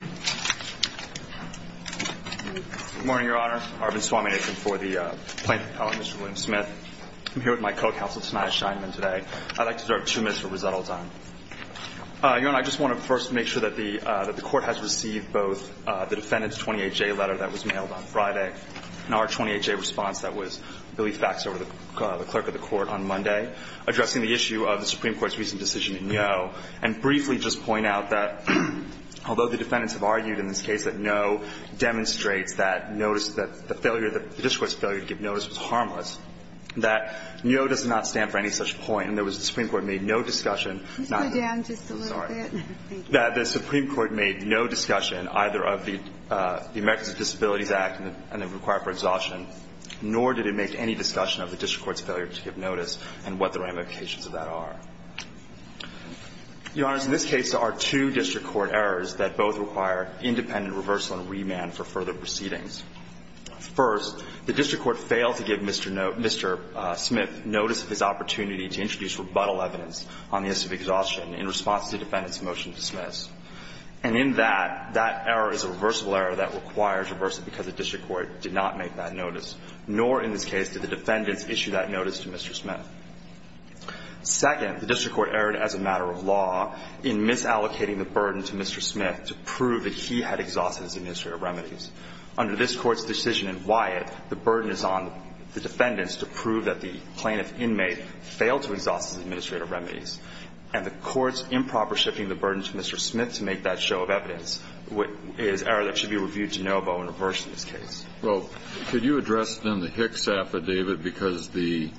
Good morning, Your Honor. Arvind Swaminathan for the plaintiff appellate, Mr. William Smith. I'm here with my co-counsel, Tanaya Scheinman, today. I'd like to serve two minutes for resettled time. Your Honor, I just want to first make sure that the court has received both the defendant's 28-J letter that was mailed on Friday and our 28-J response that was Billy Faxer, the clerk of the court, on Monday, addressing the issue of the Supreme Court's recent decision in Yo. And briefly just point out that although the defendants have argued in this case that Yo demonstrates that the failure, the district court's failure to give notice was harmless, that Yo does not stand for any such point. And the Supreme Court made no discussion. Can you slow down just a little bit? Sorry. The Supreme Court made no discussion either of the Americans with Disabilities Act and the requirement for exhaustion, nor did it make any discussion of the district court's failure to give notice and what the ramifications of that are. Your Honor, in this case, there are two district court errors that both require independent reversal and remand for further proceedings. First, the district court failed to give Mr. Smith notice of his opportunity to introduce rebuttal evidence on the issue of exhaustion in response to the defendant's motion to dismiss. And in that, that error is a reversible error that requires reversal because the district court did not make that notice, nor in this case did the defendants issue that notice to Mr. Smith. Second, the district court erred as a matter of law in misallocating the burden to Mr. Smith to prove that he had exhausted his administrative remedies. Under this court's decision in Wyatt, the burden is on the defendants to prove that the plaintiff's inmate failed to exhaust his administrative remedies. And the court's improper shifting the burden to Mr. Smith to make that show of evidence is an error that should be reviewed de novo and reversed in this case. Well, could you address then the Hicks affidavit? Because the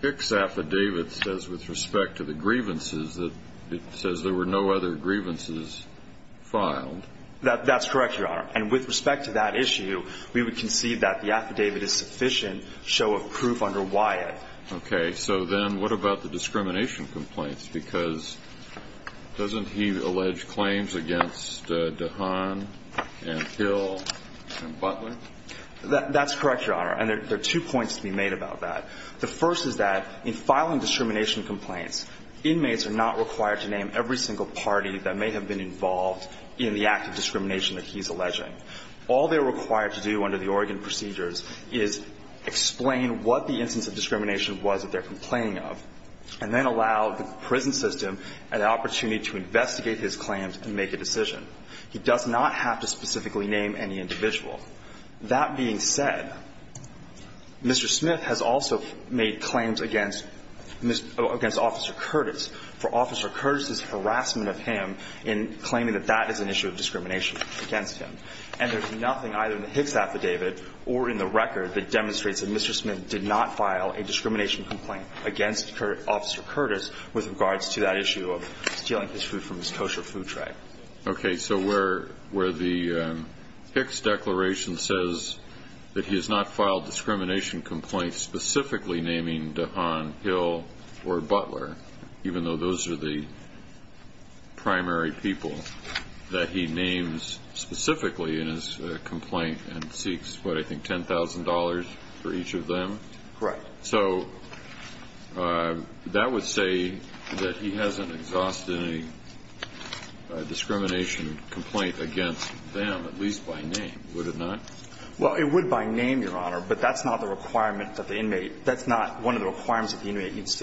Hicks affidavit says, with respect to the grievances, that it says there were no other grievances filed. That's correct, Your Honor. And with respect to that issue, we would concede that the affidavit is sufficient show of proof under Wyatt. Okay. So then what about the discrimination complaints? Because doesn't he allege claims against DeHaan and Hill and Butler? That's correct, Your Honor. And there are two points to be made about that. The first is that in filing discrimination complaints, inmates are not required to name every single party that may have been involved in the act of discrimination that he's alleging. All they're required to do under the Oregon procedures is explain what the instance of discrimination was that they're complaining of, and then allow the prison system an opportunity to investigate his claims and make a decision. He does not have to specifically name any individual. That being said, Mr. Smith has also made claims against Officer Curtis for Officer Curtis's harassment of him in claiming that that is an issue of discrimination against him. And there's nothing either in the Hicks affidavit or in the record that demonstrates that Mr. Smith did not file a discrimination complaint against Officer Curtis with regards to that issue of stealing his food from his kosher food tray. Okay, so where the Hicks declaration says that he has not filed discrimination complaints specifically naming DeHaan, Hill, or Butler, even though those are the primary people that he names specifically in his complaint and seeks, what, I think $10,000 for each of them? Correct. So that would say that he hasn't exhausted a discrimination complaint against them, at least by name, would it not? Well, it would by name, Your Honor, but that's not one of the requirements that the inmate needs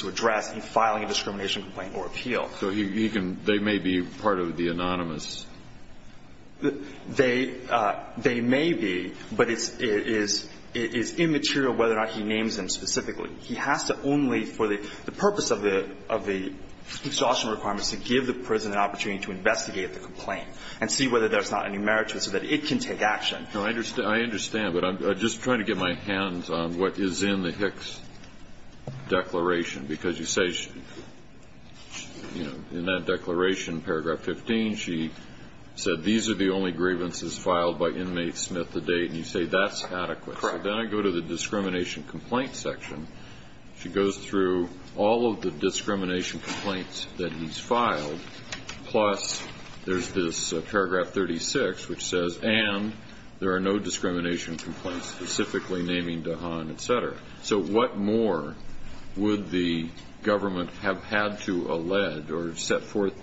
to address in filing a discrimination complaint or appeal. So they may be part of the anonymous? They may be, but it's immaterial whether or not he names them specifically. He has to only, for the purpose of the exhaustion requirements, to give the prison an opportunity to investigate the complaint and see whether there's not any merit to it so that it can take action. I understand, but I'm just trying to get my hands on what is in the Hicks declaration, because you say, you know, in that declaration, paragraph 15, she said these are the only grievances filed by inmate Smith to date, and you say that's adequate. Correct. Then I go to the discrimination complaint section. She goes through all of the discrimination complaints that he's filed, plus there's this paragraph 36, which says, and there are no discrimination complaints specifically naming DeHaan, et cetera. So what more would the government have had to allege or set forth?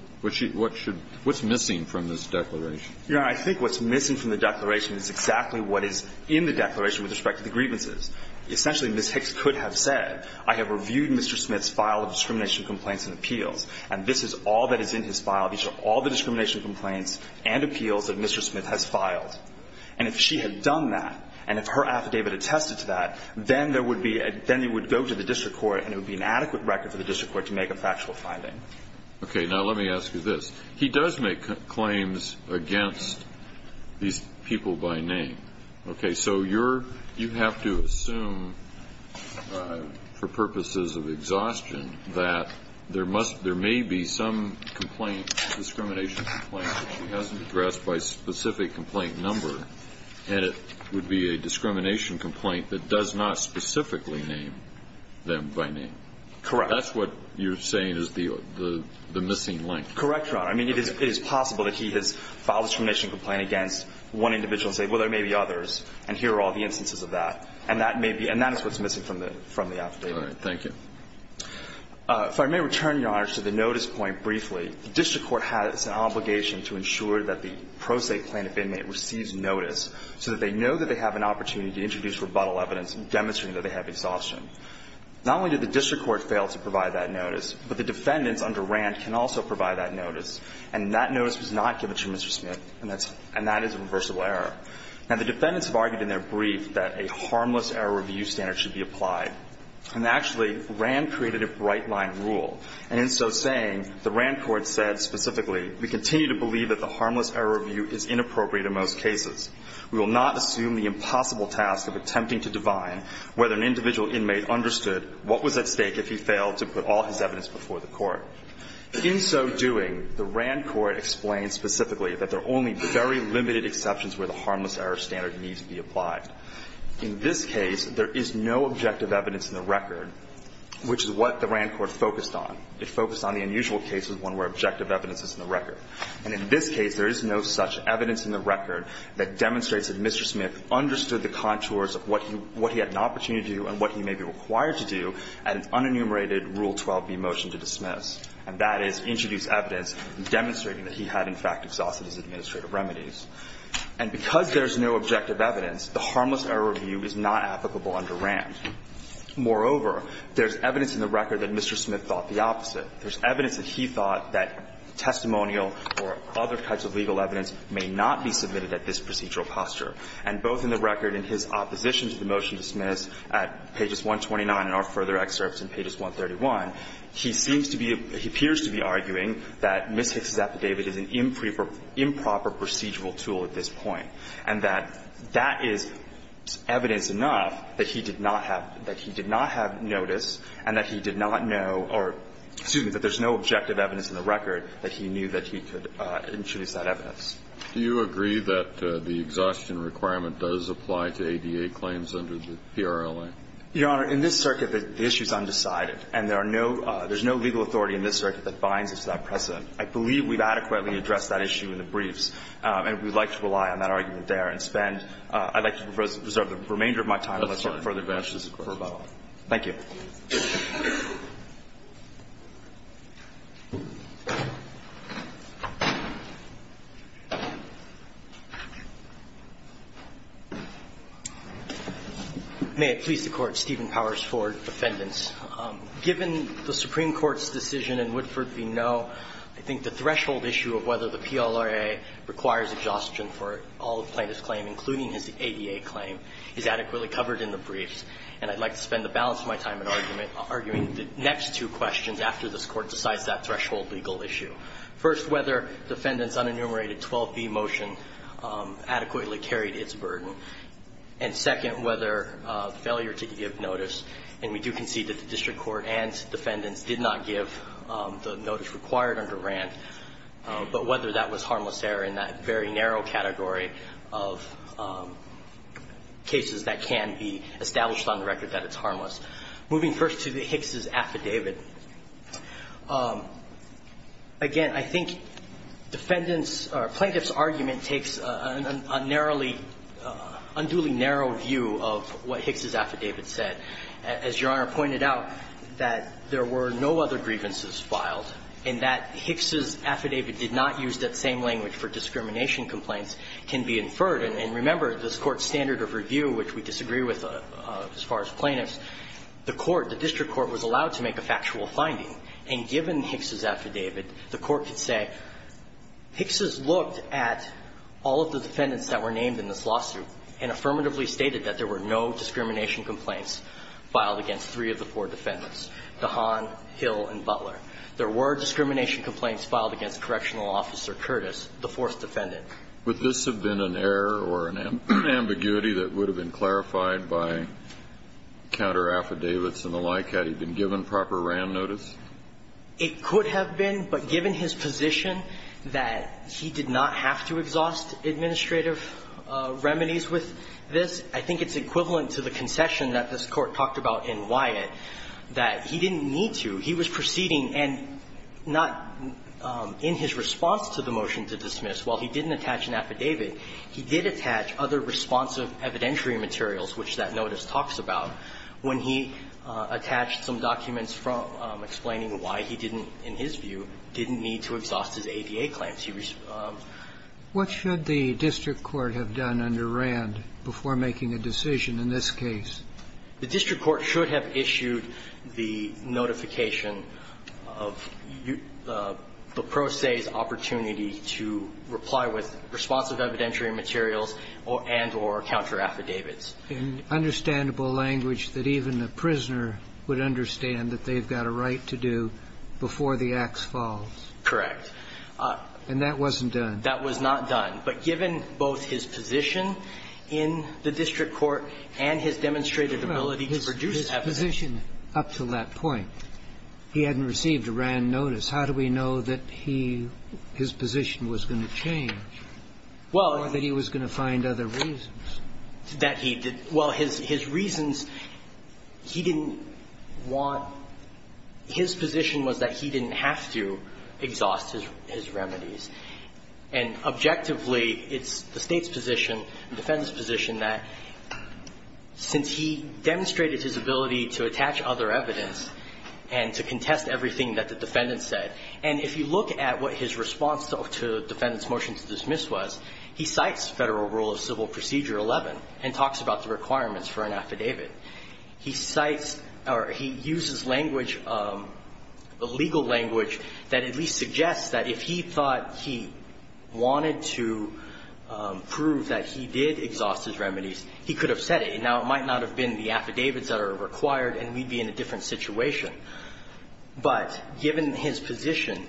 What's missing from this declaration? Your Honor, I think what's missing from the declaration is exactly what is in the declaration with respect to the grievances. Essentially, Ms. Hicks could have said, I have reviewed Mr. Smith's file of discrimination complaints and appeals, and this is all that is in his file. These are all the discrimination complaints and appeals that Mr. Smith has filed. And if she had done that, and if her affidavit attested to that, then there would be ‑‑ then it would go to the district court, and it would be an adequate record for the district court to make a factual finding. Okay. Now, let me ask you this. He does make claims against these people by name. Okay. So you're ‑‑ you have to assume for purposes of exhaustion that there must ‑‑ there may be some complaint, discrimination complaint that she hasn't addressed by specific complaint number, and it would be a discrimination complaint that does not specifically name them by name. Correct. That's what you're saying is the missing link. Correct, Your Honor. I mean, it is possible that he has filed a discrimination complaint against one individual and said, well, there may be others, and here are all the instances of that. And that may be ‑‑ and that is what's missing from the affidavit. All right. Thank you. If I may return, Your Honor, to the notice point briefly. The district court has an obligation to ensure that the pro se plaintiff inmate receives notice so that they know that they have an opportunity to introduce rebuttal evidence demonstrating that they have exhaustion. Not only did the district court fail to provide that notice, but the defendants under Rand can also provide that notice. And that notice was not given to Mr. Smith, and that is a reversible error. Now, the defendants have argued in their brief that a harmless error review standard should be applied. And actually, Rand created a bright line rule. And in so saying, the Rand court said specifically, we continue to believe that the harmless error review is inappropriate in most cases. We will not assume the impossible task of attempting to divine whether an individual inmate understood what was at stake if he failed to put all his evidence before the court. In so doing, the Rand court explained specifically that there are only very limited exceptions where the harmless error standard needs to be applied. In this case, there is no objective evidence in the record, which is what the Rand court focused on. It focused on the unusual cases, one where objective evidence is in the record. And in this case, there is no such evidence in the record that demonstrates that Mr. Smith understood the contours of what he had an opportunity to do and what he may be required to do at an unenumerated Rule 12b motion to dismiss, and that is introduce evidence demonstrating that he had, in fact, exhausted his administrative remedies. And because there is no objective evidence, the harmless error review is not applicable under Rand. Moreover, there is evidence in the record that Mr. Smith thought the opposite. There is evidence that he thought that testimonial or other types of legal evidence may not be submitted at this procedural posture. And both in the record in his opposition to the motion to dismiss at pages 129 and our further excerpts in pages 131, he seems to be, he appears to be arguing that Ms. Hicks's affidavit is an improper procedural tool at this point, and that that is evidence enough that he did not have, that he did not have notice and that he did not know or, excuse me, that there's no objective evidence in the record that he knew that he could introduce that evidence. Do you agree that the exhaustion requirement does apply to ADA claims under the PRLA? Your Honor, in this circuit, the issue is undecided, and there are no, there's no legal authority in this circuit that binds us to that precedent. I believe we've adequately addressed that issue in the briefs, and we'd like to rely on that argument there and spend, I'd like to reserve the remainder of my time unless you have further questions. Thank you. May it please the Court, Stephen Powers, for defendants. Given the Supreme Court's decision in Woodford v. Noe, I think the threshold issue of whether the PLRA requires exhaustion for all the plaintiff's claims, including his ADA claim, is adequately covered in the briefs, and I'd like to spend the balance of my time in arguing the next two questions after this Court decides that threshold legal issue. First, whether defendants' unenumerated 12b motion adequately carried its burden, and second, whether failure to give notice, and we do concede that the district court and defendants did not give the notice required under Rand, but whether that was harmless error in that very narrow category of cases that can be established on the record that it's harmless. Moving first to the Hicks' affidavit, again, I think defendants' or plaintiff's argument takes a narrowly, unduly narrow view of what Hicks' affidavit said. As Your Honor pointed out, that there were no other grievances filed, and that Hicks' affidavit did not use that same language for discrimination complaints can be inferred, and remember, this Court's standard of review, which we disagree with as far as plaintiffs, the court, the district court was allowed to make a factual finding, and given Hicks' affidavit, the Court could say Hicks' looked at all of the defendants that were named in this lawsuit and affirmatively stated that there were no discrimination complaints filed against three of the four defendants, DeHaan, Hill, and Butler. There were discrimination complaints filed against Correctional Officer Curtis, the fourth defendant. Kennedy. Would this have been an error or an ambiguity that would have been clarified by counter-affidavits and the like, had he been given proper RAM notice? It could have been, but given his position that he did not have to exhaust administrative remedies with this, I think it's equivalent to the concession that this Court talked about in Wyatt, that he didn't need to. He was proceeding, and not in his response to the motion to dismiss, while he didn't attach an affidavit, he did attach other responsive evidentiary materials, which that notice talks about, when he attached some documents from explaining why he didn't, in his view, didn't need to exhaust his ADA claims. He was responding to that. What should the district court have done under Rand before making a decision in this case? The district court should have issued the notification of the pro se's opportunity to reply with responsive evidentiary materials and or counter-affidavits. In understandable language, that even a prisoner would understand that they've got a right to do before the ax falls. Correct. And that wasn't done. That was not done. But given both his position in the district court and his demonstrated ability to produce evidence. Well, his position up to that point, he hadn't received a Rand notice. How do we know that he, his position was going to change or that he was going to find other reasons? That he did – well, his reasons, he didn't want – his position was that he didn't have to exhaust his remedies. And objectively, it's the State's position, the defendant's position, that since he demonstrated his ability to attach other evidence and to contest everything that the defendant said, and if you look at what his response to the defendant's motion to dismiss was, he cites Federal Rule of Civil Procedure 11 and talks about the requirements for an affidavit. He cites or he uses language, legal language, that at least suggests that if he thought he wanted to prove that he did exhaust his remedies, he could have said it. Now, it might not have been the affidavits that are required, and we'd be in a different situation. But given his position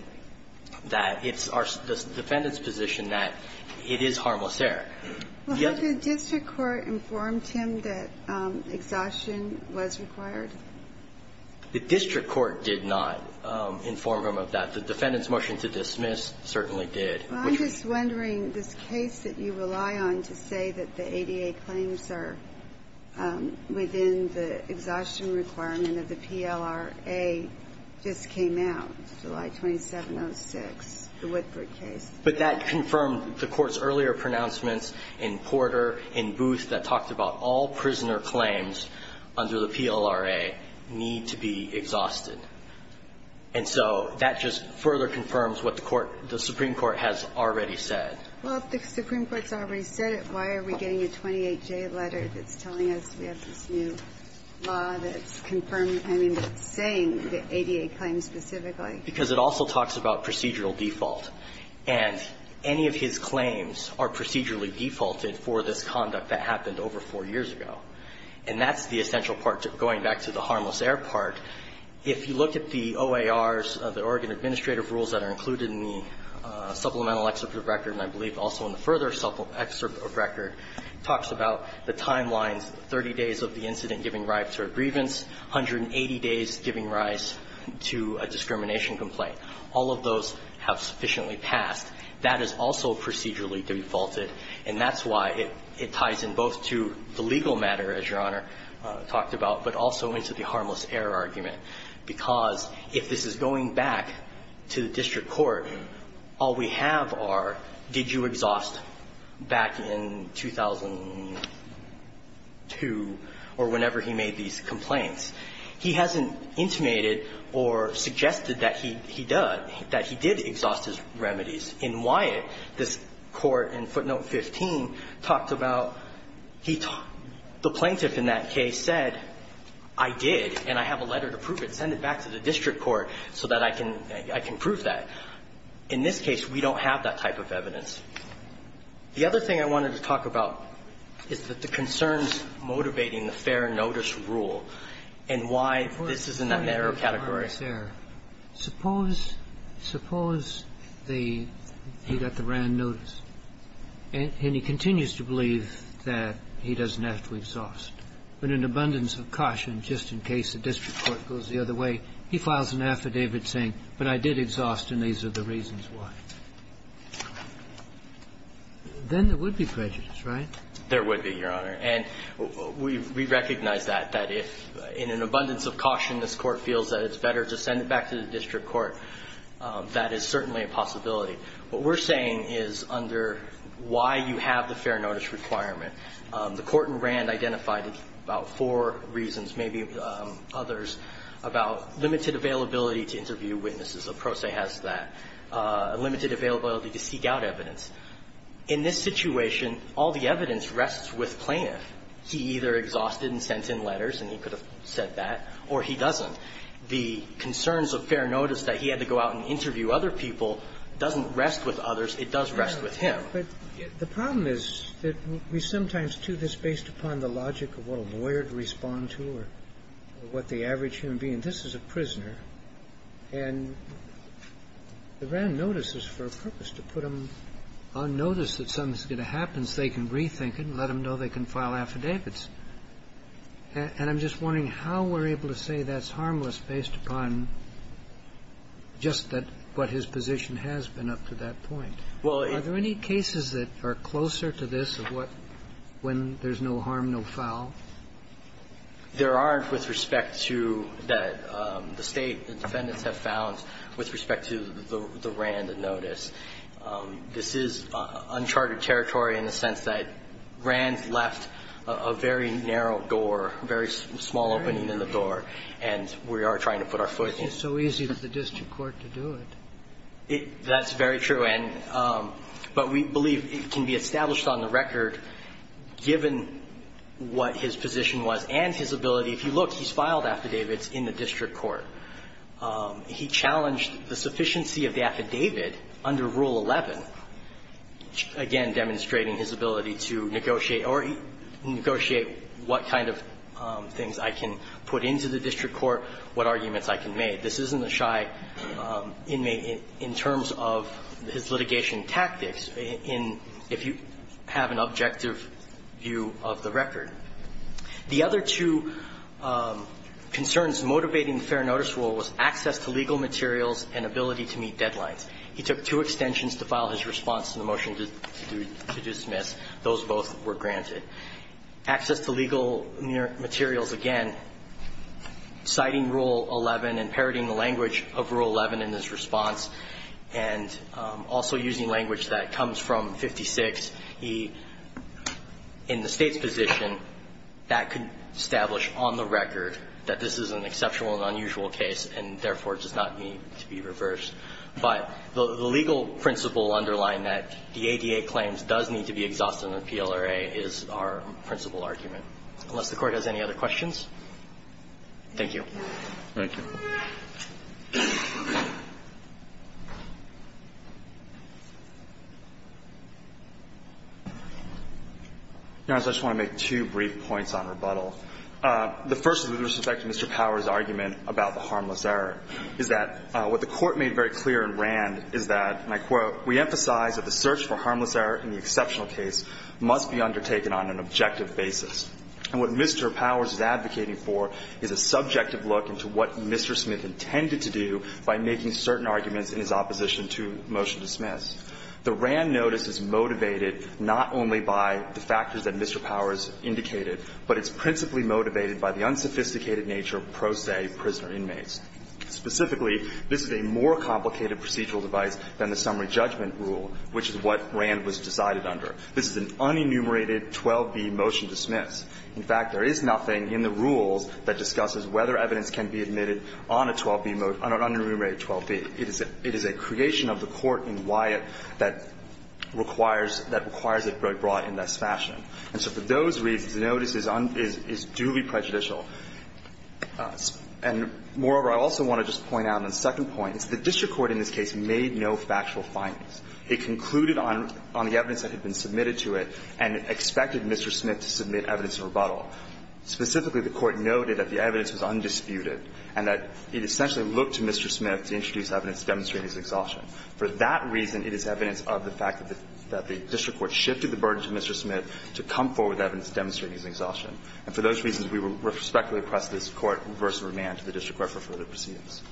that it's our – the defendant's position that it is harmless error. The other – Well, had the district court informed him that exhaustion was required? The district court did not inform him of that. The defendant's motion to dismiss certainly did. I'm just wondering, this case that you rely on to say that the ADA claims are within the exhaustion requirement of the PLRA just came out, July 2706, the Whitford case. But that confirmed the Court's earlier pronouncements in Porter, in Booth, that talked about all prisoner claims under the PLRA need to be exhausted. And so that just further confirms what the Court – the Supreme Court has already said. Well, if the Supreme Court's already said it, why are we getting a 28J letter that's telling us we have this new law that's confirming – I mean, saying the ADA claims specifically? Because it also talks about procedural default. And any of his claims are procedurally defaulted for this conduct that happened over four years ago. And that's the essential part. Going back to the harmless error part, if you look at the OARs, the Oregon Administrative Rules that are included in the supplemental excerpt of record, and I believe also in the further excerpt of record, talks about the timelines, 30 days of the incident giving rise to a grievance, 180 days giving rise to a discrimination complaint. All of those have sufficiently passed. That is also procedurally defaulted. And that's why it ties in both to the legal matter, as Your Honor talked about, but also into the harmless error argument. Because if this is going back to the district court, all we have are, did you exhaust back in 2002 or whenever he made these complaints. He hasn't intimated or suggested that he did, that he did exhaust his remedies. In Wyatt, this Court in footnote 15 talked about he – the plaintiff in that case said, I did, and I have a letter to prove it. Send it back to the district court so that I can prove that. In this case, we don't have that type of evidence. The other thing I wanted to talk about is that the concerns motivating the fair notice rule and why this is in that narrow category. Suppose – suppose the – he got the RAND notice, and he continues to believe that he doesn't have to exhaust, but in abundance of caution, just in case the district court goes the other way, he files an affidavit saying, but I did exhaust, and these are the reasons why. Then there would be prejudice, right? There would be, Your Honor. And we recognize that, that if in an abundance of caution this Court feels that it's better to send it back to the district court, that is certainly a possibility. What we're saying is under why you have the fair notice requirement. The Court in RAND identified about four reasons, maybe others, about limited availability to interview witnesses. A pro se has that. Limited availability to seek out evidence. In this situation, all the evidence rests with plaintiff. He either exhausted and sent in letters, and he could have said that, or he doesn't. The concerns of fair notice that he had to go out and interview other people doesn't rest with others. It does rest with him. Roberts. But the problem is that we sometimes do this based upon the logic of what a lawyer to respond to or what the average human being. I mean, this is a prisoner, and the RAND notices for a purpose, to put them on notice that something's going to happen so they can rethink it and let them know they can file affidavits. And I'm just wondering how we're able to say that's harmless based upon just that what his position has been up to that point. Are there any cases that are closer to this of what when there's no harm, no foul? There aren't with respect to the State. The defendants have found with respect to the RAND notice. This is uncharted territory in the sense that RAND left a very narrow door, a very small opening in the door, and we are trying to put our foot in it. It's so easy for the district court to do it. That's very true. And but we believe it can be established on the record, given what his position was and his ability, if you look, he's filed affidavits in the district court. He challenged the sufficiency of the affidavit under Rule 11, again, demonstrating his ability to negotiate or negotiate what kind of things I can put into the district court, what arguments I can make. This isn't a shy inmate in terms of his litigation tactics in – if you have an objective view of the record. The other two concerns motivating the fair notice rule was access to legal materials and ability to meet deadlines. He took two extensions to file his response to the motion to dismiss. Those both were granted. Access to legal materials, again, citing Rule 11 and parodying the language of Rule 11 in his response and also using language that comes from 56, he – in the State's position, that could establish on the record that this is an exceptional and unusual case and, therefore, does not need to be reversed. But the legal principle underlying that the ADA claims does need to be exhausted in the PLRA is our principal argument. Unless the Court has any other questions, thank you. Thank you. Your Honor, I just want to make two brief points on rebuttal. The first is with respect to Mr. Power's argument about the harmless error, is that what the Court made very clear in Rand is that, and I quote, And what Mr. Powers is advocating for is a subjective look into what Mr. Smith intended to do by making certain arguments in his opposition to motion to dismiss. The Rand notice is motivated not only by the factors that Mr. Powers indicated, but it's principally motivated by the unsophisticated nature of pro se prisoner inmates. Specifically, this is a more complicated procedural device than the summary judgment rule, which is what Rand was decided under. This is an unenumerated 12b motion to dismiss. In fact, there is nothing in the rules that discusses whether evidence can be admitted on a 12b motion, on an unenumerated 12b. It is a creation of the Court in Wyatt that requires it brought in this fashion. And so for those reasons, the notice is duly prejudicial. And, moreover, I also want to just point out on the second point is the district court in this case made no factual findings. It concluded on the evidence that had been submitted to it and expected Mr. Smith to submit evidence of rebuttal. Specifically, the Court noted that the evidence was undisputed and that it essentially looked to Mr. Smith to introduce evidence to demonstrate his exhaustion. For that reason, it is evidence of the fact that the district court shifted the burden to Mr. Smith to come forward with evidence to demonstrate his exhaustion. And for those reasons, we respectfully request this Court reverse the remand to the district court for further proceedings.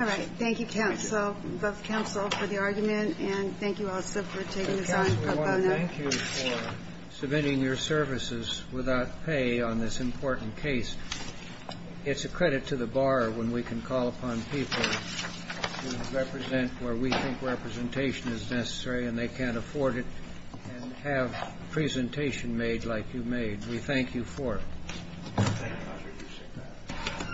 All right. Thank you, counsel, both counsel, for the argument. And thank you also for taking this on. Counsel, we want to thank you for submitting your services without pay on this important case. It's a credit to the bar when we can call upon people to represent where we think representation is necessary and they can't afford it and have a presentation made like you made. We thank you for it. Thank you, counsel. Thank you.